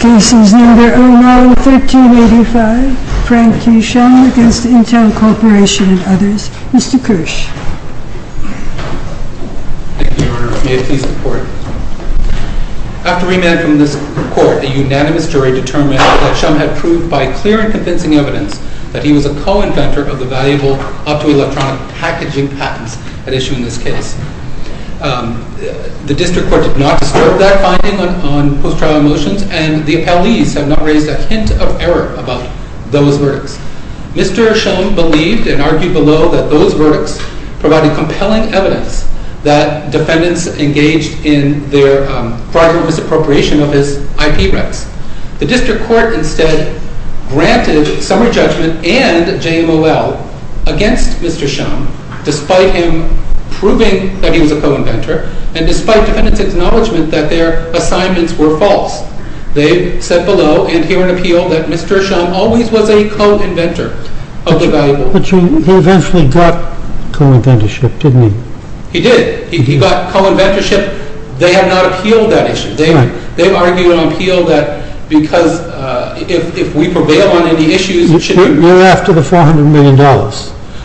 Cases No. 09-1385 Frank T. Shum v. INTEL CORPORATION Mr. Kersh After remand from this Court, a unanimous jury determined that Shum had proved by clear and convincing evidence that he was a co-inventor of the valuable optoelectronic packaging patents at issue in this case. The District Court did not disturb that finding on post-trial motions, and the appellees have not raised a hint of error about those verdicts. Mr. Shum believed and argued below that those verdicts provided compelling evidence that defendants engaged in their fraudulent misappropriation of his IP rights. The District Court instead granted summary judgment and JMOL against Mr. Shum, despite him proving that he was a co-inventor, and despite defendants' acknowledgment that their assignments were false. They said below, and here in appeal, that Mr. Shum always was a co-inventor of the valuable optoelectronic packaging patents. But he eventually got co-inventorship, didn't he? He did. He got co-inventorship. They have not appealed that issue. They've argued on appeal that because if we prevail on any issues, it shouldn't matter. You're after the $400 million?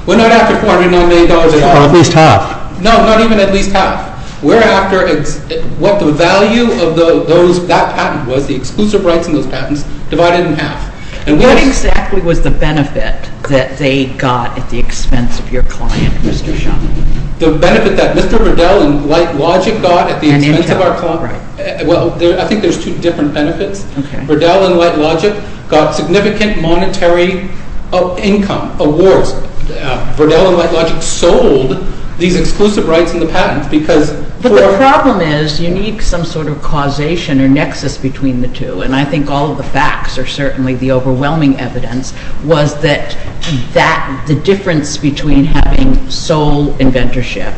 We're not after $400 million at all. Or at least half? No, not even at least half. We're after what the value of those, that patent was, the exclusive rights in those patents, divided in half. And what exactly was the benefit that they got at the expense of your client, Mr. Shum? The benefit that Mr. Riddell and Light Logic got at the expense of our client? Right. Well, I think there's two different benefits. Okay. Mr. Riddell and Light Logic got significant monetary income, awards. Riddell and Light Logic sold these exclusive rights in the patents because- But the problem is you need some sort of causation or nexus between the two. And I think all of the facts are certainly the overwhelming evidence was that the difference between having sole inventorship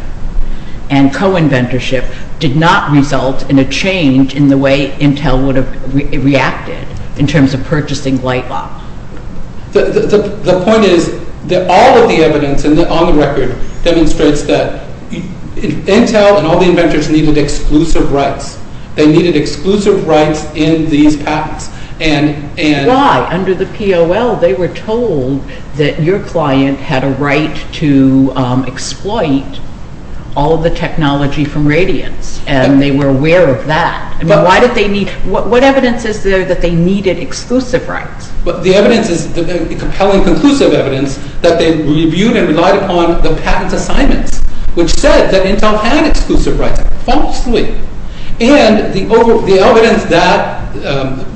and co-inventorship did not result in a change in the way Intel would have reacted in terms of purchasing Light Logic. The point is that all of the evidence on the record demonstrates that Intel and all the inventors needed exclusive rights. They needed exclusive rights in these patents. And- Why? Under the POL, they were told that your client had a right to exploit all of the technology from Radiance. And they were aware of that. But- I mean, why did they need- What evidence is there that they needed exclusive rights? But the evidence is compelling conclusive evidence that they reviewed and relied upon the patent assignments, which said that Intel had exclusive rights, falsely. And the evidence that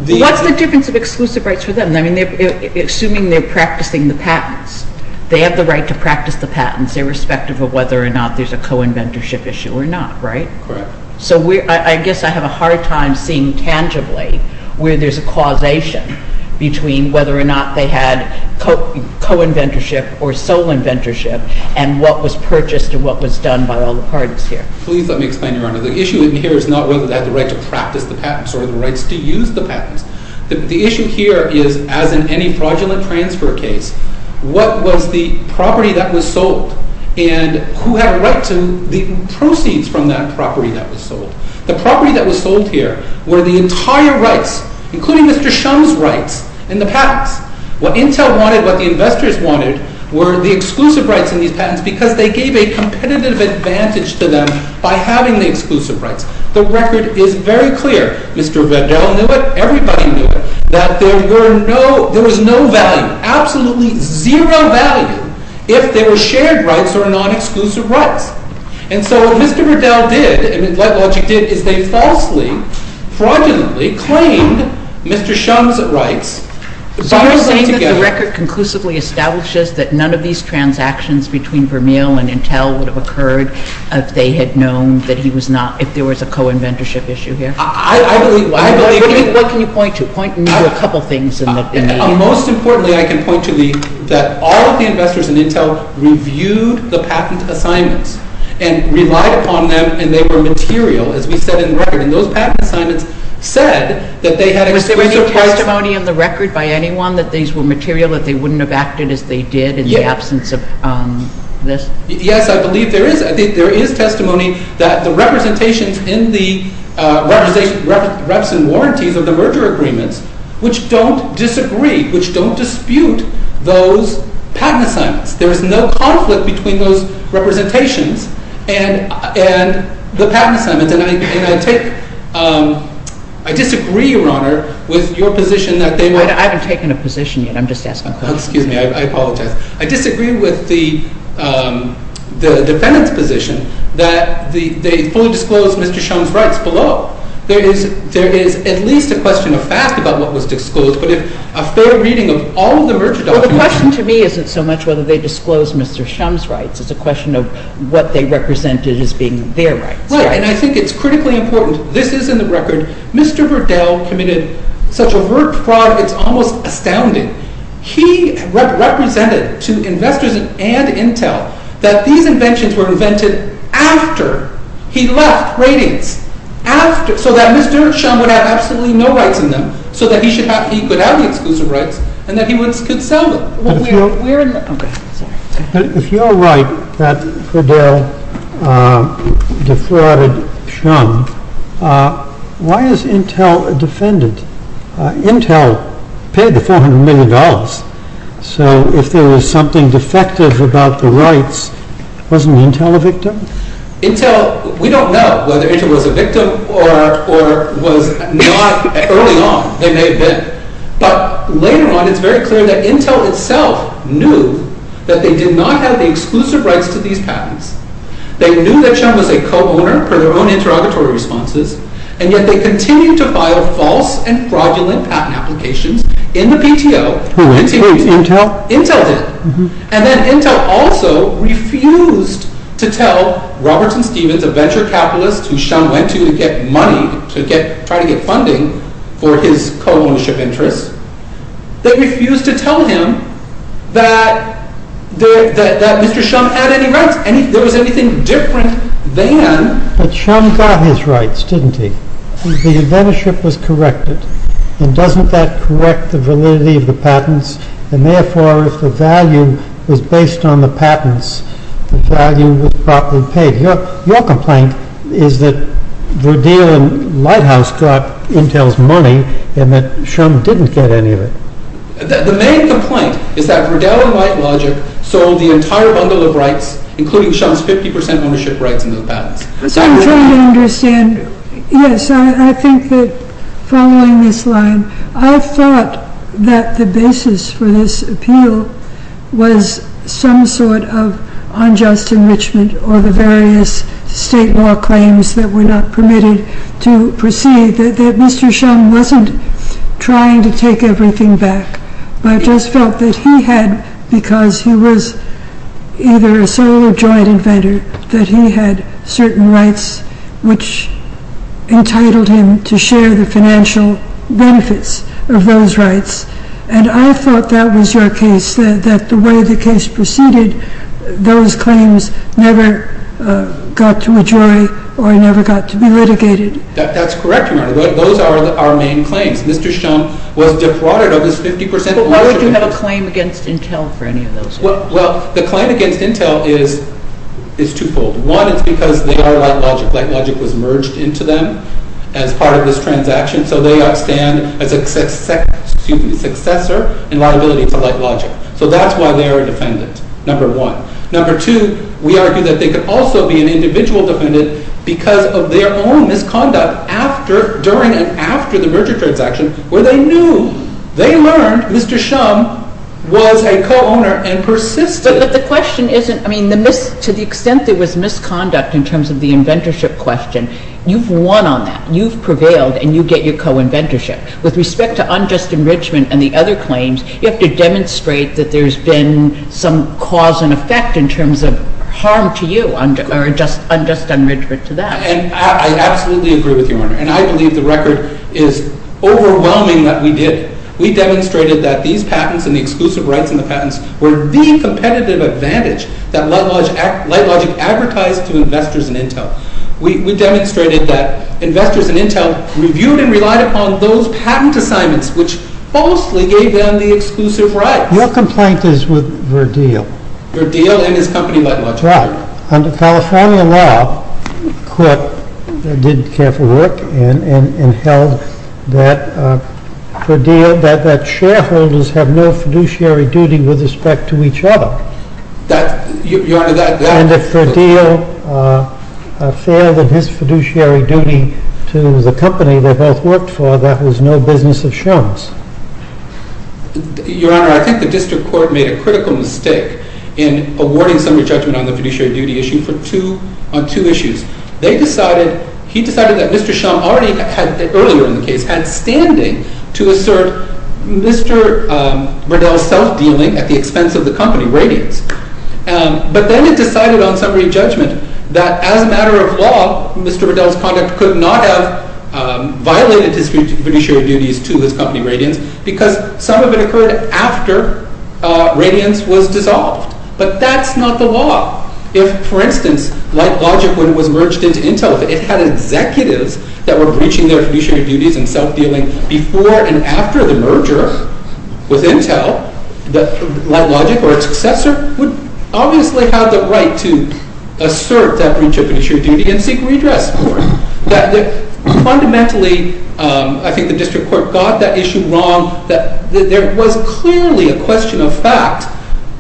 the- What's the difference of exclusive rights for them? I mean, assuming they're practicing the patents, they have the right to practice the patents irrespective of whether or not there's a co-inventorship issue or not, right? Correct. So I guess I have a hard time seeing tangibly where there's a causation between whether or not they had co-inventorship or sole inventorship and what was purchased and what was done by all the parties here. Please let me explain, Your Honor. The issue in here is not whether they had the right to practice the patents or the rights to use the patents. The issue here is, as in any fraudulent transfer case, what was the property that was sold and who had a right to the proceeds from that property that was sold. The property that was sold here were the entire rights, including Mr. Shum's rights, in the patents. What Intel wanted, what the investors wanted, were the exclusive rights in these patents because they gave a competitive advantage to them by having the exclusive rights. The record is very clear. Mr. Verdell knew it, everybody knew it, that there was no value, absolutely zero value if there were shared rights or non-exclusive rights. And so what Mr. Verdell did, and what LightLogic did, is they falsely, fraudulently, claimed Mr. Shum's rights. So you're saying that the record conclusively establishes that none of these transactions between Vermeer and Intel would have occurred if they had known that he was not, if there was a co-inventorship issue here? I believe, I believe it. What can you point to? Point me to a couple things in the... Well, most importantly, I can point to the, that all of the investors in Intel reviewed the patent assignments and relied upon them, and they were material, as we said in the record. And those patent assignments said that they had exclusive rights... Was there any testimony in the record by anyone that these were material, that they wouldn't have acted as they did in the absence of this? Yes. Yes, I believe there is. I think there is testimony that the representations in the representation, reps and warranties of the merger agreements, which don't disagree, which don't dispute those patent assignments. There's no conflict between those representations and, and the patent assignments. And I, and I take, I disagree, Your Honor, with your position that they were... I haven't taken a position yet. I'm just asking a question. Excuse me. I apologize. I disagree with the, the defendant's position that the, they fully disclosed Mr. Shum's rights below. There is, there is at least a question of fact about what was disclosed, but if a fair reading of all of the merger documents... Well, the question to me isn't so much whether they disclosed Mr. Shum's rights, it's a question of what they represented as being their rights. Right, and I think it's critically important, this is in the record, Mr. Verdell committed such overt fraud, it's almost astounding. He represented to investors and, and Intel that these inventions were invented after he left Radiance, after, so that Mr. Shum would have absolutely no rights in them, so that he should have, he could have the exclusive rights and that he would, could sell them. But if you're, if you're right that Verdell defrauded Shum, why is Intel a defendant? Intel paid the $400 million. So if there was something defective about the rights, wasn't Intel a victim? Intel, we don't know whether Intel was a victim or, or was not early on, they may have been. But later on, it's very clear that Intel itself knew that they did not have the exclusive rights to these patents. They knew that Shum was a co-owner per their own interrogatory responses, and yet they continue to file false and fraudulent patent applications in the PTO. Intel? Intel did. And then Intel also refused to tell Robertson Stevens, a venture capitalist who Shum went to to get money, to get, try to get funding for his co-ownership interests. They refused to tell him that, that, that Mr. Shum had any rights, any, there was anything different than... But Shum got his rights, didn't he? The inventorship was corrected, and doesn't that correct the validity of the patents? And therefore, if the value was based on the patents, the value was properly paid. Your complaint is that Verdell and Lighthouse got Intel's money, and that Shum didn't get any of it. The main complaint is that Verdell and Lighthouse sold the entire bundle of rights, including Shum's 50% ownership rights in those patents. I'm trying to understand, yes, I think that following this line, I thought that the basis for this appeal was some sort of unjust enrichment or the various state law claims that were not permitted to proceed, that Mr. Shum wasn't trying to take everything back, but just felt that he had, because he was either a sole or joint inventor, that he had certain rights which entitled him to share the financial benefits of those rights. And I thought that was your case, that the way the case proceeded, those claims never got to a jury or never got to be litigated. That's correct, Your Honor. Those are our main claims. Mr. Shum was deprauded of his 50% ownership... But why would you have a claim against Intel for any of those? Well, the claim against Intel is twofold. One, it's because they are LightLogic. LightLogic was merged into them as part of this transaction, so they outstand as a second successor and liability to LightLogic. So that's why they are a defendant, number one. Number two, we argue that they could also be an individual defendant because of their own misconduct during and after the merger transaction, where they knew, they learned, Mr. Shum was a co-owner and persisted. But the question isn't, I mean, to the extent there was misconduct in terms of the inventorship question, you've won on that. You've prevailed and you get your co-inventorship. With respect to unjust enrichment and the other claims, you have to demonstrate that there's been some cause and effect in terms of harm to you or unjust enrichment to them. And I absolutely agree with you, Your Honor. And I believe the record is overwhelming that we did it. We demonstrated that these patents and the exclusive rights in the patents were the competitive advantage that LightLogic advertised to investors in Intel. We demonstrated that investors in Intel reviewed and relied upon those patent assignments which falsely gave them the exclusive rights. Your complaint is with Verdeel. Verdeel and his company, LightLogic. Right. Under California law, the court did careful work and held that Verdeel, that shareholders have no fiduciary duty with respect to each other. That, Your Honor, that... And if Verdeel failed in his fiduciary duty to the company they both worked for, that was no business of Shum's. Your Honor, I think the district court made a critical mistake in awarding some of the judgment on the fiduciary duty issue on two issues. They decided, he decided that Mr. Shum already had, earlier in the case, had standing to assert Mr. Verdeel's self-dealing at the expense of the company, Radiance. But then it decided on summary judgment that, as a matter of law, Mr. Verdeel's conduct could not have violated his fiduciary duties to his company, Radiance, because some of it occurred after Radiance was dissolved. But that's not the law. If, for instance, LightLogic, when it was merged into Intel, it had executives that were breaching their fiduciary duties and self-dealing before and after the merger with Intel, LightLogic, or its successor, would obviously have the right to assert that breach of fiduciary duty and seek redress for it. Fundamentally, I think the district court got that issue wrong. There was clearly a question of fact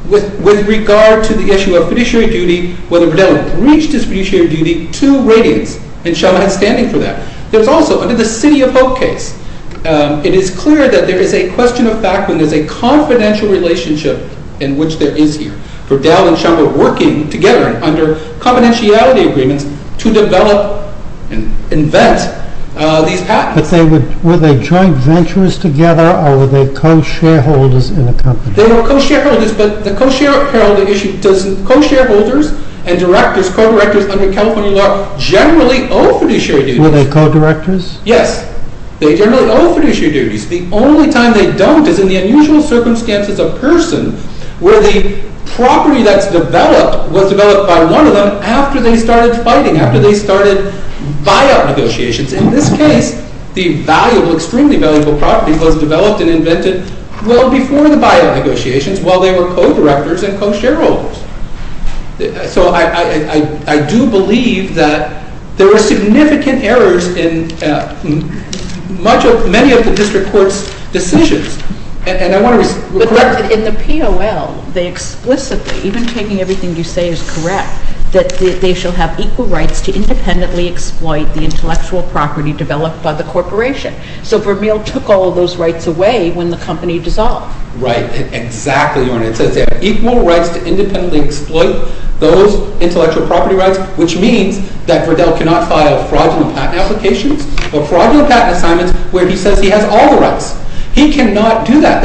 with regard to the issue of fiduciary duty, whether Verdeel breached his fiduciary duty to Radiance, and Shum had standing for that. There's also, under the City of Hope case, it is clear that there is a question of fact when there's a confidential relationship in which there is here. Verdeel and Shum were working together under confidentiality agreements to develop and invent these patents. But were they joint ventures together, or were they co-shareholders in a company? They were co-shareholders, but the co-shareholder issue doesn't... Co-shareholders and directors, co-directors under California law, generally owe fiduciary duties. Were they co-directors? Yes, they generally owe fiduciary duties. The only time they don't is in the unusual circumstances of person where the property that's developed was developed by one of them after they started fighting, after they started buyout negotiations. In this case, the valuable, extremely valuable property was developed and invented well before the buyout negotiations, while they were co-directors and co-shareholders. So I do believe that there were significant errors in many of the district court's decisions. And I want to... But in the P.O.L., they explicitly, even taking everything you say is correct, that they shall have equal rights to independently exploit the intellectual property developed by the corporation. So Verdeel took all those rights away when the company dissolved. Right, exactly. It says they have equal rights to independently exploit those intellectual property rights, which means that Verdeel cannot file fraudulent patent applications or fraudulent patent assignments where he says he has all the rights. He cannot do that.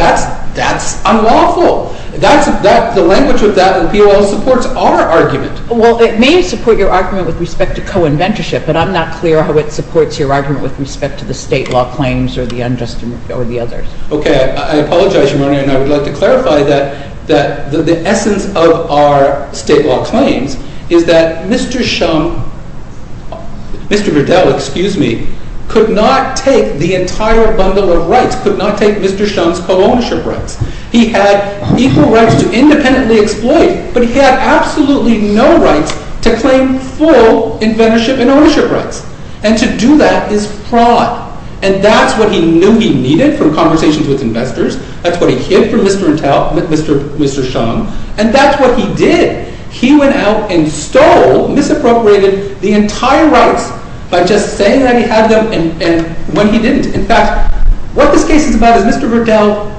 That's unlawful. The language of that in the P.O.L. supports our argument. Well, it may support your argument with respect to co-inventorship, but I'm not clear how it supports your argument with respect to the state law claims or the others. Okay, I apologize, Ramon. And I would like to clarify that the essence of our state law claims is that Mr. Shum, Mr. Verdeel, excuse me, could not take the entire bundle of rights, could not take Mr. Shum's co-ownership rights. He had equal rights to independently exploit, but he had absolutely no rights to claim full inventorship and ownership rights. And to do that is fraud. And that's what he knew he needed from conversations with investors. That's what he hid from Mr. Verdeel, Mr. Shum. And that's what he did. He went out and stole, misappropriated the entire rights by just saying that he had them when he didn't. In fact, what this case is about is Mr. Verdeel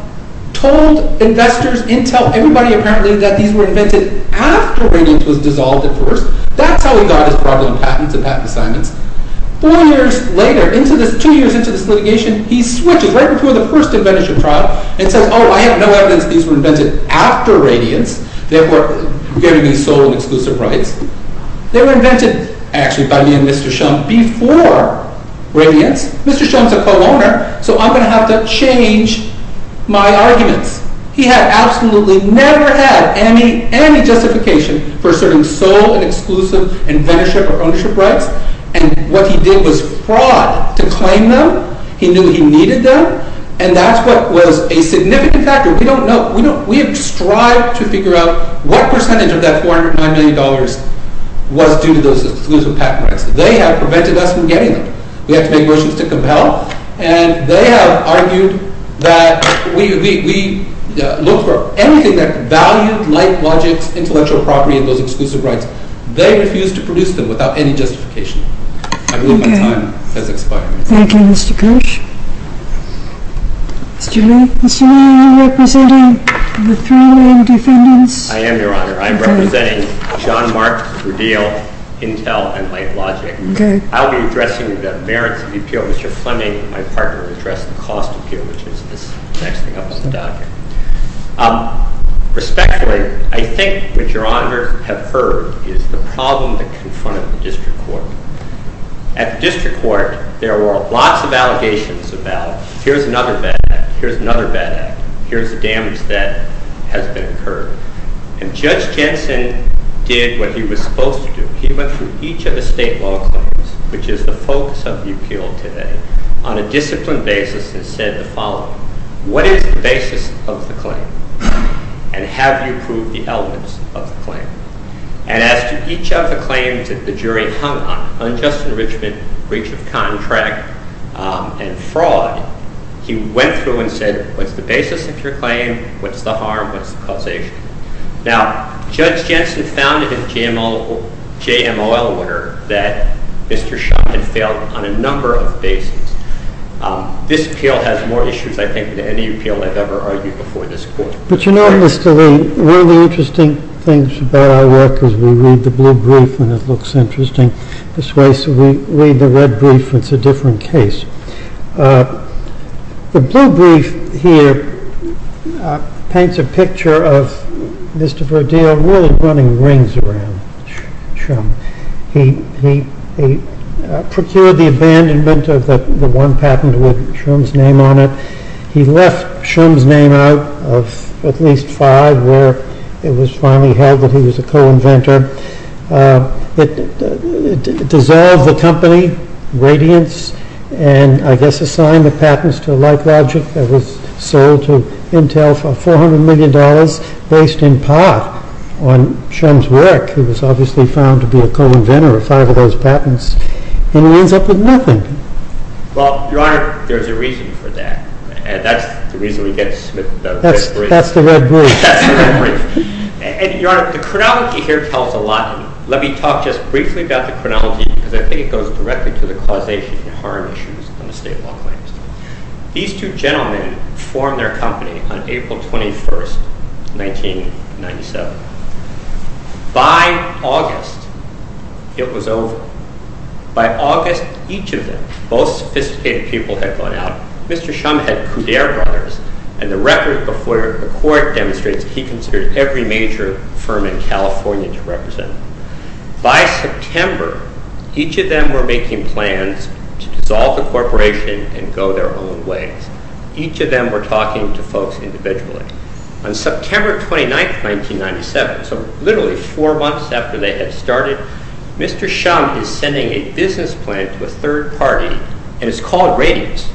told investors, Intel, everybody apparently that these were invented after Rainings was dissolved at first. That's how he got his fraudulent patents and patent assignments. Four years later, two years into this litigation, he switches right before the first inventorship trial and says, oh, I have no evidence these were invented after Rainings. They were given these sole and exclusive rights. They were invented, actually, by me and Mr. Shum before Rainings. Mr. Shum's a co-owner, so I'm going to have to change my arguments. He had absolutely never had any justification for asserting sole and exclusive inventorship or ownership rights. And what he did was fraud to claim them. He knew he needed them. And that's what was a significant factor. We don't know. We have strived to figure out what percentage of that $409 million was due to those exclusive patent rights. They have prevented us from getting them. We have to make motions to compel. And they have argued that we look for anything that's valued, like logics, intellectual property, and those exclusive rights. They refuse to produce them without any justification. I believe my time has expired. Thank you, Mr. Koch. Mr. Lee, are you representing the three main defendants? I am, Your Honor. I'm representing John Marks, Rudeal, Intel, and Light Logic. I'll be addressing the merits of the appeal. Mr. Fleming, my partner, will address the cost appeal, which is this next thing up on the docket. Respectfully, I think what Your Honors have heard is the problem that confronted the district court. At the district court, there were lots of allegations about, here's another bad act, here's another bad act, here's the damage that has been incurred. And Judge Jensen did what he was supposed to do. He went through each of the state law claims, which is the focus of the appeal today, on a disciplined basis and said the following. What is the basis of the claim? And have you proved the elements of the claim? And as to each of the claims that the jury hung on, unjust enrichment, breach of contract, and fraud, he went through and said, what's the basis of your claim, what's the harm, what's the causation? Now, Judge Jensen found in his JMOL order that Mr. Schott had failed on a number of bases. This appeal has more issues, I think, than any appeal I've ever argued before this court. But you know, Mr. Lee, one of the interesting things about our work is we read the blue brief and it looks interesting. This way, so we read the red brief, it's a different case. The blue brief here paints a picture of Mr. Verdeel really running rings around Trump. He procured the abandonment of the one patent with Schum's name on it. He left Schum's name out of at least five where it was finally held that he was a co-inventor. It dissolved the company, Radiance, and I guess assigned the patents to a like logic that was sold to Intel for $400 million based in part on Schum's work, who was obviously found to be a co-inventor of five of those patents. And he ends up with nothing. Well, Your Honor, there's a reason for that. That's the reason we get the red brief. That's the red brief. That's the red brief. And Your Honor, the chronology here tells a lot. Let me talk just briefly about the chronology because I think it goes directly to the causation and harm issues on the state law claims. These two gentlemen formed their company on April 21st, 1997. By August, it was over. By August, each of them, both sophisticated people had gone out. Mr. Schum had Coudere brothers and the record before the court demonstrates he considered every major firm in California to represent. By September, each of them were making plans to dissolve the corporation and go their own ways. Each of them were talking to folks individually. On September 29th, 1997, so literally four months after they had started, Mr. Schum is sending a business plan to a third party and it's called Radius,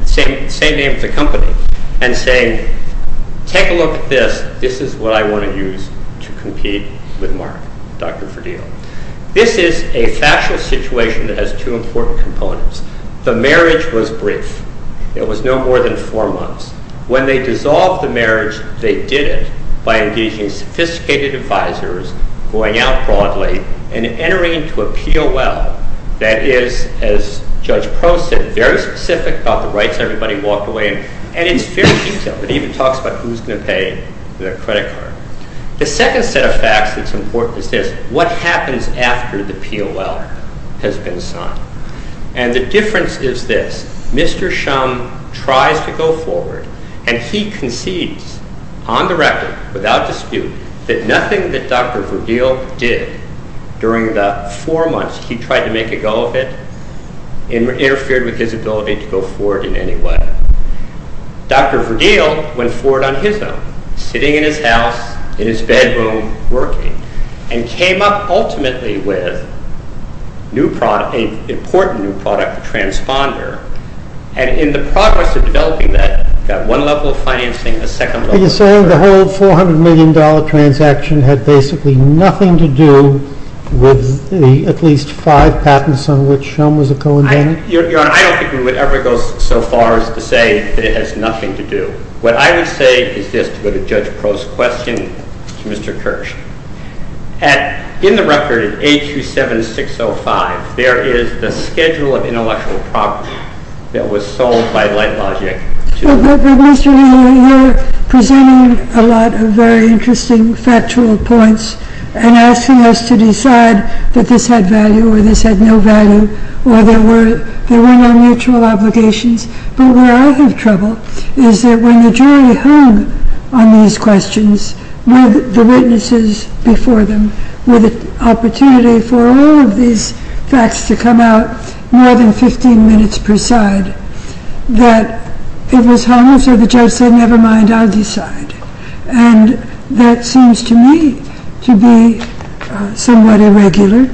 the same name as the company, and saying, take a look at this. This is what I want to use to compete with Mark, Dr. Verdeel. This is a factual situation that has two important components. The marriage was brief. It was no more than four months. When they dissolved the marriage, they did it by engaging sophisticated advisors, going out broadly, and entering into a P.O.L. that is, as Judge Prost said, very specific about the rights. Everybody walked away. And it's very detailed. It even talks about who's going to pay the credit card. The second set of facts that's important is this. What happens after the P.O.L. has been signed? And the difference is this. Mr. Schum tries to go forward and he concedes, on the record, without dispute, that nothing that Dr. Verdeel did during the four months he tried to make a go of it interfered with his ability to go forward in any way. Dr. Verdeel went forward on his own, sitting in his house, in his bedroom, working, and came up, ultimately, with a new product, an important new product, a transponder, and in the progress of developing that, he got one level of financing, a second level of financing. Are you saying the whole $400 million transaction had basically nothing to do with the at least five patents on which Schum was a co-inventor? Your Honor, I don't think we would ever go so far as to say that it has nothing to do. What I would say is this, to go to Judge Prost's question, to Mr. Kirsch. In the record, 827605, there is the schedule of intellectual property that was sold by LightLogic. Mr. Verdeel, you are presenting a lot of very interesting factual points and asking us to decide that this had value or this had no value or there were no mutual obligations. But where I have trouble is that when the jury hung on these questions with the witnesses before them with the opportunity for all of these facts to come out, more than 15 minutes per side, that it was hung so the judge said, never mind, I'll decide. And that seems to me to be somewhat irregular.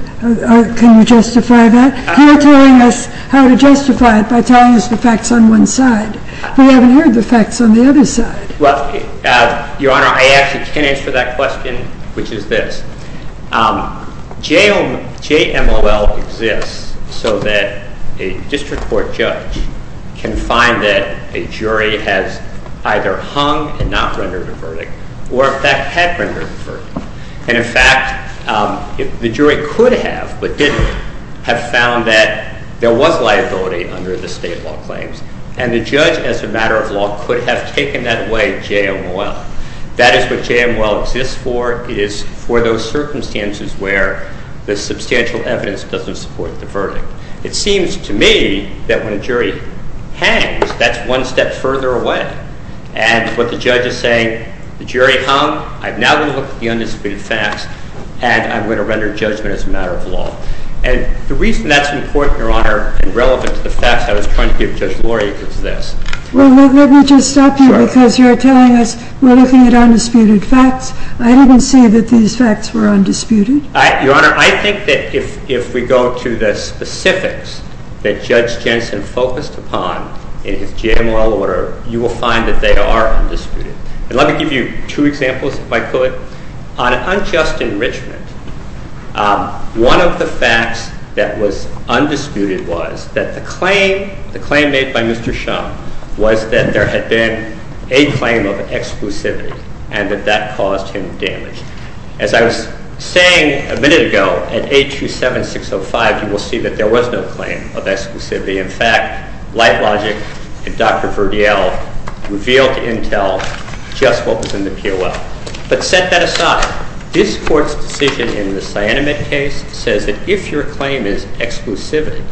Can you justify that? You're telling us how to justify it by telling us the facts on one side. We haven't heard the facts on the other side. Well, Your Honor, I actually can answer that question, which is this. JMOL exists so that a district court judge can find that a jury has either hung and not rendered a verdict or, in fact, had rendered a verdict. And, in fact, the jury could have, but didn't, have found that there was liability under the state law claims and the judge, as a matter of law, could have taken that away JMOL. That is what JMOL exists for. It is for those circumstances where the substantial evidence doesn't support the verdict. It seems to me that when a jury hangs, that's one step further away. And what the judge is saying, the jury hung, I'm now going to look at the undisputed facts and I'm going to render judgment as a matter of law. And the reason that's important, Your Honor, and relevant to the facts I was trying to give Judge Lori is this. Well, let me just stop you because you're telling us we're looking at undisputed facts. I didn't say that these facts were undisputed. Your Honor, I think that if we go to the specifics that Judge Jensen focused upon in his JMOL order, you will find that they are undisputed. And let me give you two examples if I could. On unjust enrichment, one of the facts that was undisputed was that the claim, the claim made by Mr. Shaw was that there had been a claim of exclusivity and that that caused him damage. As I was saying a minute ago, at 827-605 you will see that there was no claim of exclusivity. In fact, LifeLogic and Dr. Verdiel revealed to Intel just what was in the POL. But set that aside, this Court's decision in the cyanamide case says that if your claim is exclusivity,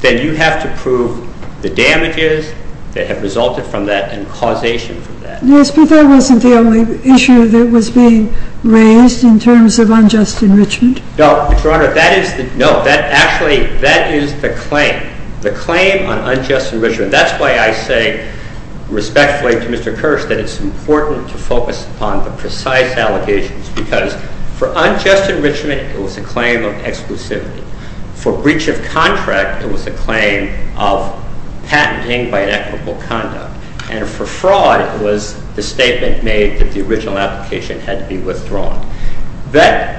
then you have to prove the damages that have resulted from that and causation for that. Yes, but that wasn't the only issue that was being raised in terms of unjust enrichment. No, Your Honor. No, actually that is the claim. The claim on unjust enrichment. That's why I say respectfully to Mr. Kirsch that it's important to focus upon the precise allegations because for unjust enrichment, it was a claim of exclusivity. For breach of contract, it was a claim of patenting by an equitable conduct. And for fraud it was the statement made that the original application had to be withdrawn. That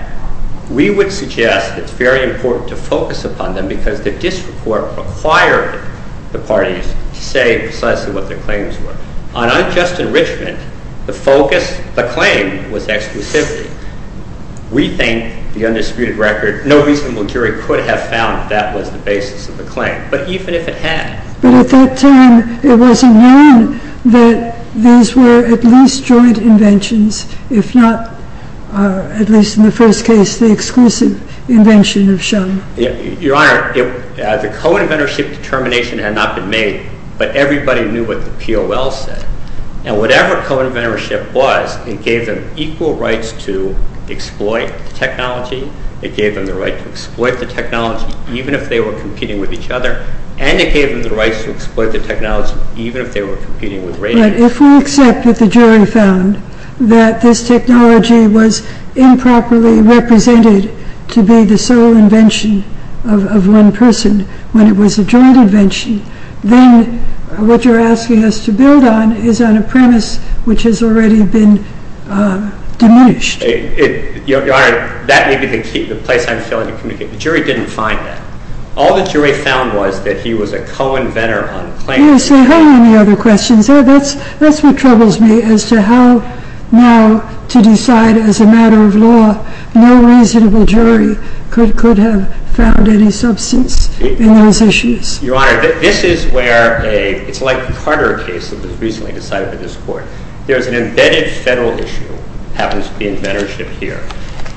we would suggest it's very important to focus upon them because the district court required the parties to say precisely what their claims were. On unjust enrichment, the focus, the claim, was exclusivity. We think the undisputed record, no reasonable jury could have found that was the basis of the claim. But even if it had. But at that time, it was known that these were at least joint inventions. If not, at least in the first case, the exclusive invention of Shum. Your Honor, the co-inventorship determination had not been made. But everybody knew what the P.O.L. said. Now whatever co-inventorship was, it gave them equal rights to exploit the technology. It gave them the right to exploit the technology even if they were competing with each other. And it gave them the rights to exploit the technology even if they were competing with radio. But if we accept that the jury found that this technology was improperly represented to be the sole invention of one person when it was a joint invention, then what you're asking us to build on is on a premise which has already been diminished. Your Honor, that may be the place I'm failing to communicate. The jury didn't find that. All the jury found was that he was a co-inventor on claims. Can you say how many other questions? That's what troubles me as to how now to decide as a matter of law no reasonable jury could have found any substance in those issues. Your Honor, this is where a it's like the Carter case that was recently decided by this Court. There's an embedded federal issue that happens to be in inventorship here.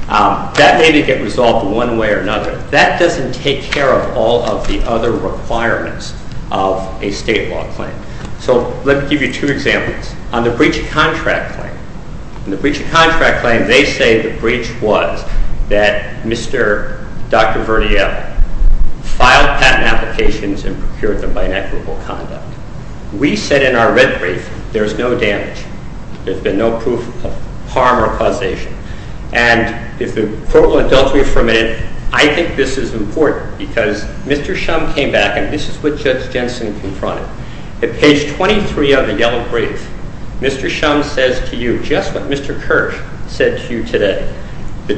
That may get resolved one way or another. That doesn't take care of all of the other requirements of a state law claim. Let me give you two examples. On the breach of contract claim, they say the breach was that Mr. Dr. Verdiel filed patent applications and procured them by inequitable conduct. We said in our red brief there's no damage. There's been no proof of harm or causation. And if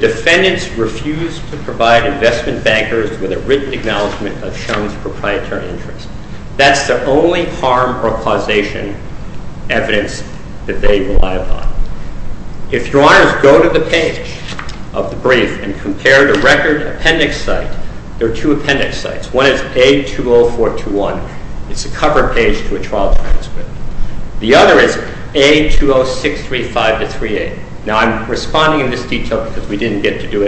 the defendant refused to provide investment bankers with a written acknowledgment of Shum's proprietary interest, that's the only harm or causation evidence that they rely upon. If Your Honor record appendix, you will see that Mr. Shum's written acknowledgment of Shum's proprietary interest is the only harm or causation acknowledgment of Shum's proprietary interest, that's the only harm or causation evidence that they rely upon. If the defendant refused to provide investment bankers with a written acknowledgment of Shum's that's the only harm or causation evidence that they rely upon. refused to provide investment bankers with a written acknowledgment of Shum's proprietary interest, that's the only harm or causation evidence that they rely upon. If the defendant refused to provide investment bankers with a written proprietary interest, that's the only harm or causation evidence that they rely upon. If the defendant investment bankers with a written acknowledgment of Shum's proprietary interest, that's the only harm or causation evidence that they rely upon. And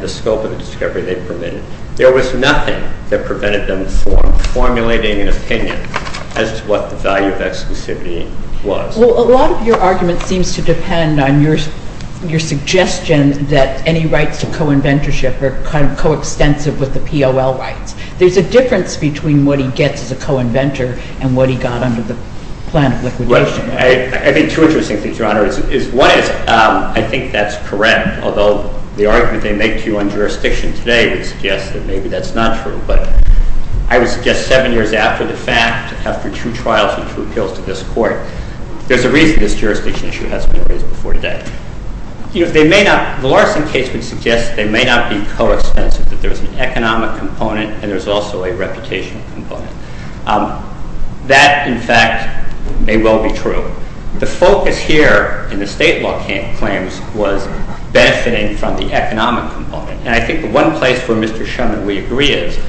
the scope of the discovery they permitted. There was nothing that prevented them formulating an opinion as to what the value of exclusivity was. Well a lot of your argument seems to depend on your suggestion that any rights to co-inventorship are kind of co-extensive with the P.O.L. rights. There's a difference between what he gets as a co-inventor and what he got under the plan of liquidation. I think two interesting things, Your Honor, is one is I think that's correct, although the argument they make to you on jurisdiction today would suggest that maybe that's not true, but I would suggest seven years after the fact, after two trials and two appeals to this Court, there's a reason this jurisdiction issue hasn't been raised before today. The Larson case would suggest they may not be co-expensive, that there's an economic component and there's also a reputation component. That in fact may well be true. The focus here in the state law claims was benefiting from the economic component. And I think the one place where Mr. Shum and we agree is to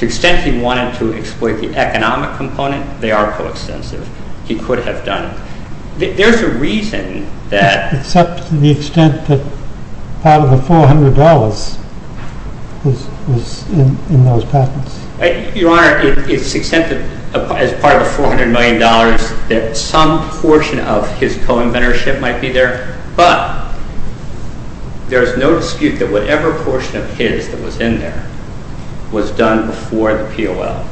the extent he wanted to exploit the economic component, they are co-extensive. He could have done There's a reason that Except to the extent that part of the $400 was in those patents. Your Honor, it's the extent that as part of the $400 million that some portion of his co-inventorship might be there, but there's no dispute that whatever portion of his that was in there was done before the P.O.L.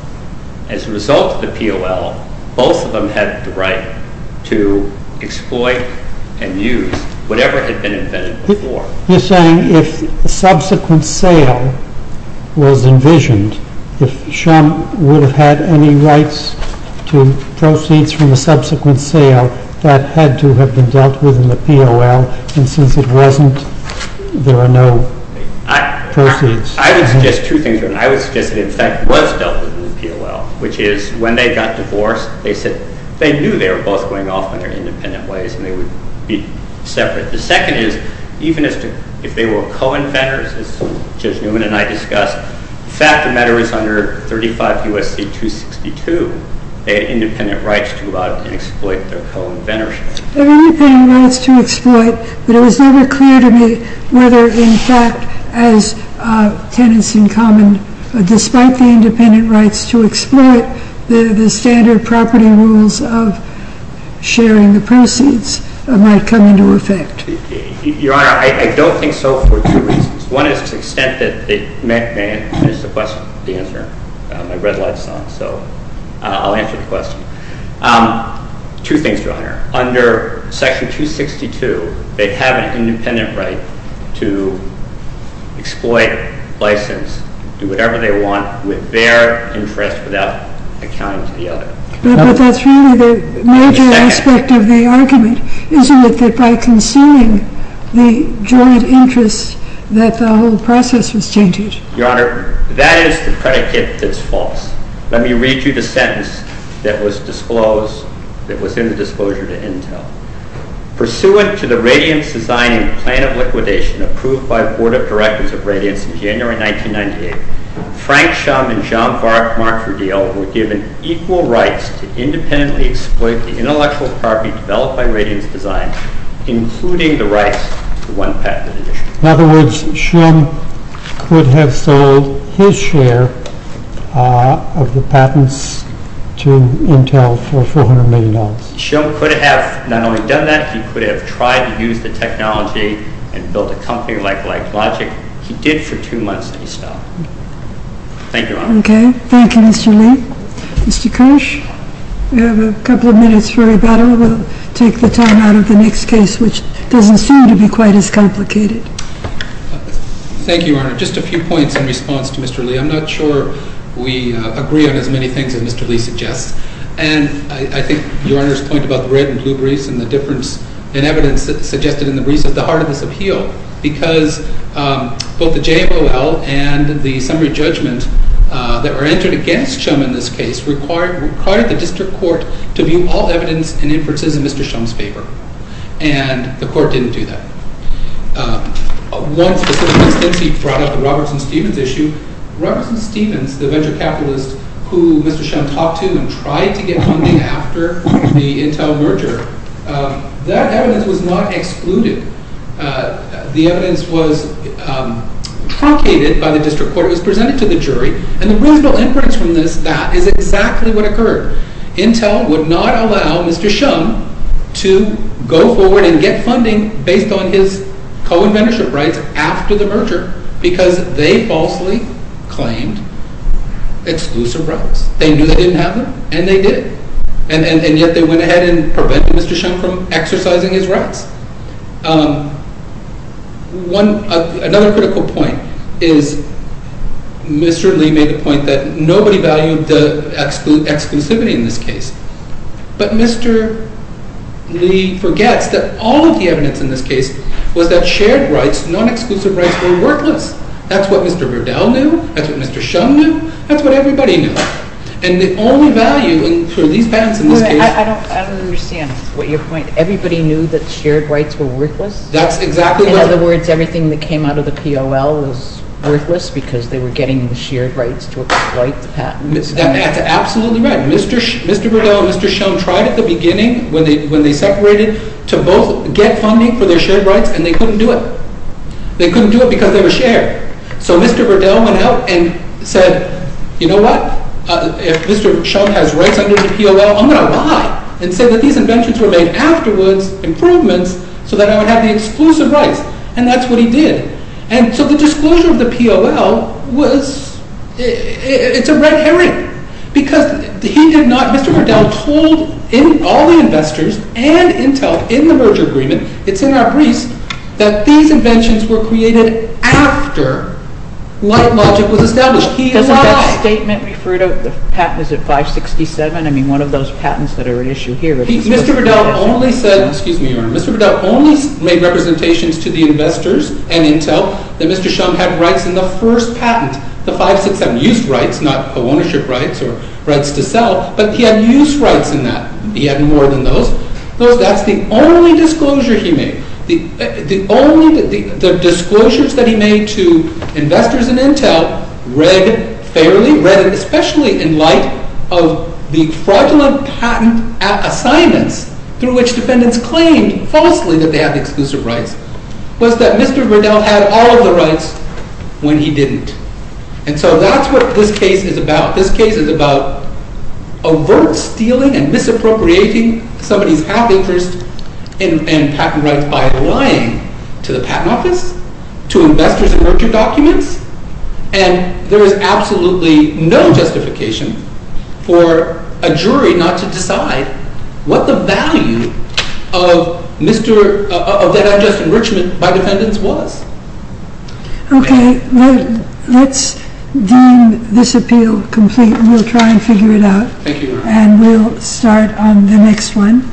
As a result of the P.O.L., both of them had the right to exploit and use whatever had been invented before. You're saying if subsequent sale was envisioned, if Shum would have had any rights to proceeds from the subsequent sale, that had to have been dealt with in the P.O.L. And since it wasn't, there are no proceeds. I would suggest two things. I would suggest it in fact was dealt with in the P.O.L. which is when they got divorced, they said they knew they were both going off on their independent ways and they would be separate. The second is even if they were co-inventors as Judge Newman and I discussed, the fact of the matter is under 35 U.S.C. 262, they had independent rights to exploit their co-inventorship. They had independent rights to exploit but it was never clear to me whether in fact as tenants in common, despite the independent rights to exploit, the standard property rules of sharing the proceeds might come into effect. Your Honor, I don't think so for two reasons. One is to the extent that there is a question, the answer, my red light is on, so I'll answer the question. Two things, Your Honor. Under Section 262, they have an independent right to exploit, license, do whatever they want with their interest without accounting to the other. But that's really the major aspect of the argument, isn't it, that by concealing the joint interests that the whole process was changed? Your Honor, that is the predicate that's false. Let me read you the sentence that was disclosed, that was in the disclosure to Intel. Pursuant to the Radiance Design and Plan of Liquidation approved by the Board of Directors of Radiance in January 1998, Frank Shum and Jean-Marc Verdiel were given equal rights to independently exploit the intellectual property developed by Radiance Design including the rights to one patented edition. In other words, Shum could have sold his share of the patents to Intel for $400 million. Shum could have not only done that, he could have tried to use the technology and build a company like LightLogic. He did for two months and he stopped. Thank you, Your Honor. Okay. Thank you, Mr. Lee. Mr. Kirsch, we have a couple of minutes for rebuttal. We'll take the time out of the next case, which doesn't seem to be quite as complicated. Thank you, Your Honor. Just a few points in response to Mr. Lee. I'm not sure we agree on as many things as Mr. Lee suggests. And I think Your Honor's point about the red and blue grease and the difference in evidence suggested in the grease is the heart of this appeal because both the JOL and the summary judgment that were entered against Shum in this case required the District Court to view all evidence and inferences in Mr. Shum's favor. And the Court didn't do that. One specific instance, he brought up the Robertson-Stevens issue. Robertson-Stevens, the venture capitalist who Mr. Shum talked to and tried to get funding after the Intel merger, that evidence was not excluded. The evidence was truncated by the District Court. It was presented to the jury. And the reasonable inference from this, that is exactly what occurred. Intel would not allow Mr. Shum to go forward and get funding based on his co-inventorship rights after the merger because they falsely claimed exclusive rights. They knew they didn't have them, and they did. And yet they went ahead and prevented Mr. Shum from exercising his rights. Another critical point is Mr. Lee made the point that nobody valued the exclusivity in this case. But Mr. Lee forgets that all of the evidence in this case was that shared rights, non-exclusive rights, were worthless. That's what Mr. Verdell knew. That's what Mr. Shum knew. That's what everybody knew. And the only value for these patents in this case... I don't understand your point. Everybody knew that shared rights were worthless? That's exactly what... In other words, everything that came out of the P.O.L. was worthless because they were getting the shared rights to exploit the patents. That's absolutely right. Mr. Verdell and Mr. Shum tried at the beginning when they separated to both get funding for their shared rights and they couldn't do it. They couldn't do it because they were shared. So Mr. Verdell went out and said, you know what? If Mr. Shum has rights under the P.O.L., I'm going to lie and say that these inventions were made afterwards, improvements, so that I would have the exclusive rights. And that's what he did. And so the disclosure of the P.O.L. was... It's a red herring. Because he did not... Mr. Verdell told all the investors and Intel in the merger agreement, it's in our briefs, that these inventions were created after LightLogic was established. He lied. Doesn't that statement refer to the patents at 567? I mean, one of those patents that are at issue here. Mr. Verdell only said... Excuse me, Your Honor. Mr. Verdell only made representations to the investors and Intel that Mr. Shum had rights in the first patent, the 567. Used rights, not ownership rights or rights to sell, but he had used rights in that. He had more than those. That's the only disclosure he made. The only... The disclosures that he made to investors and Intel read fairly, read especially in light of the fraudulent patent assignments through which the defendants claimed falsely that they had the exclusive rights, was that Mr. Verdell had all of the rights when he didn't. And so that's what this case is about. This case is about overt stealing and misappropriating somebody's half-interest and patent rights by lying to the patent office, to investors and merger documents, and there is absolutely no justification for a jury not to decide what the value of that unjust enrichment by defendants was. Okay. Let's deem this appeal complete and we'll try and figure it out. And we'll start on the next one.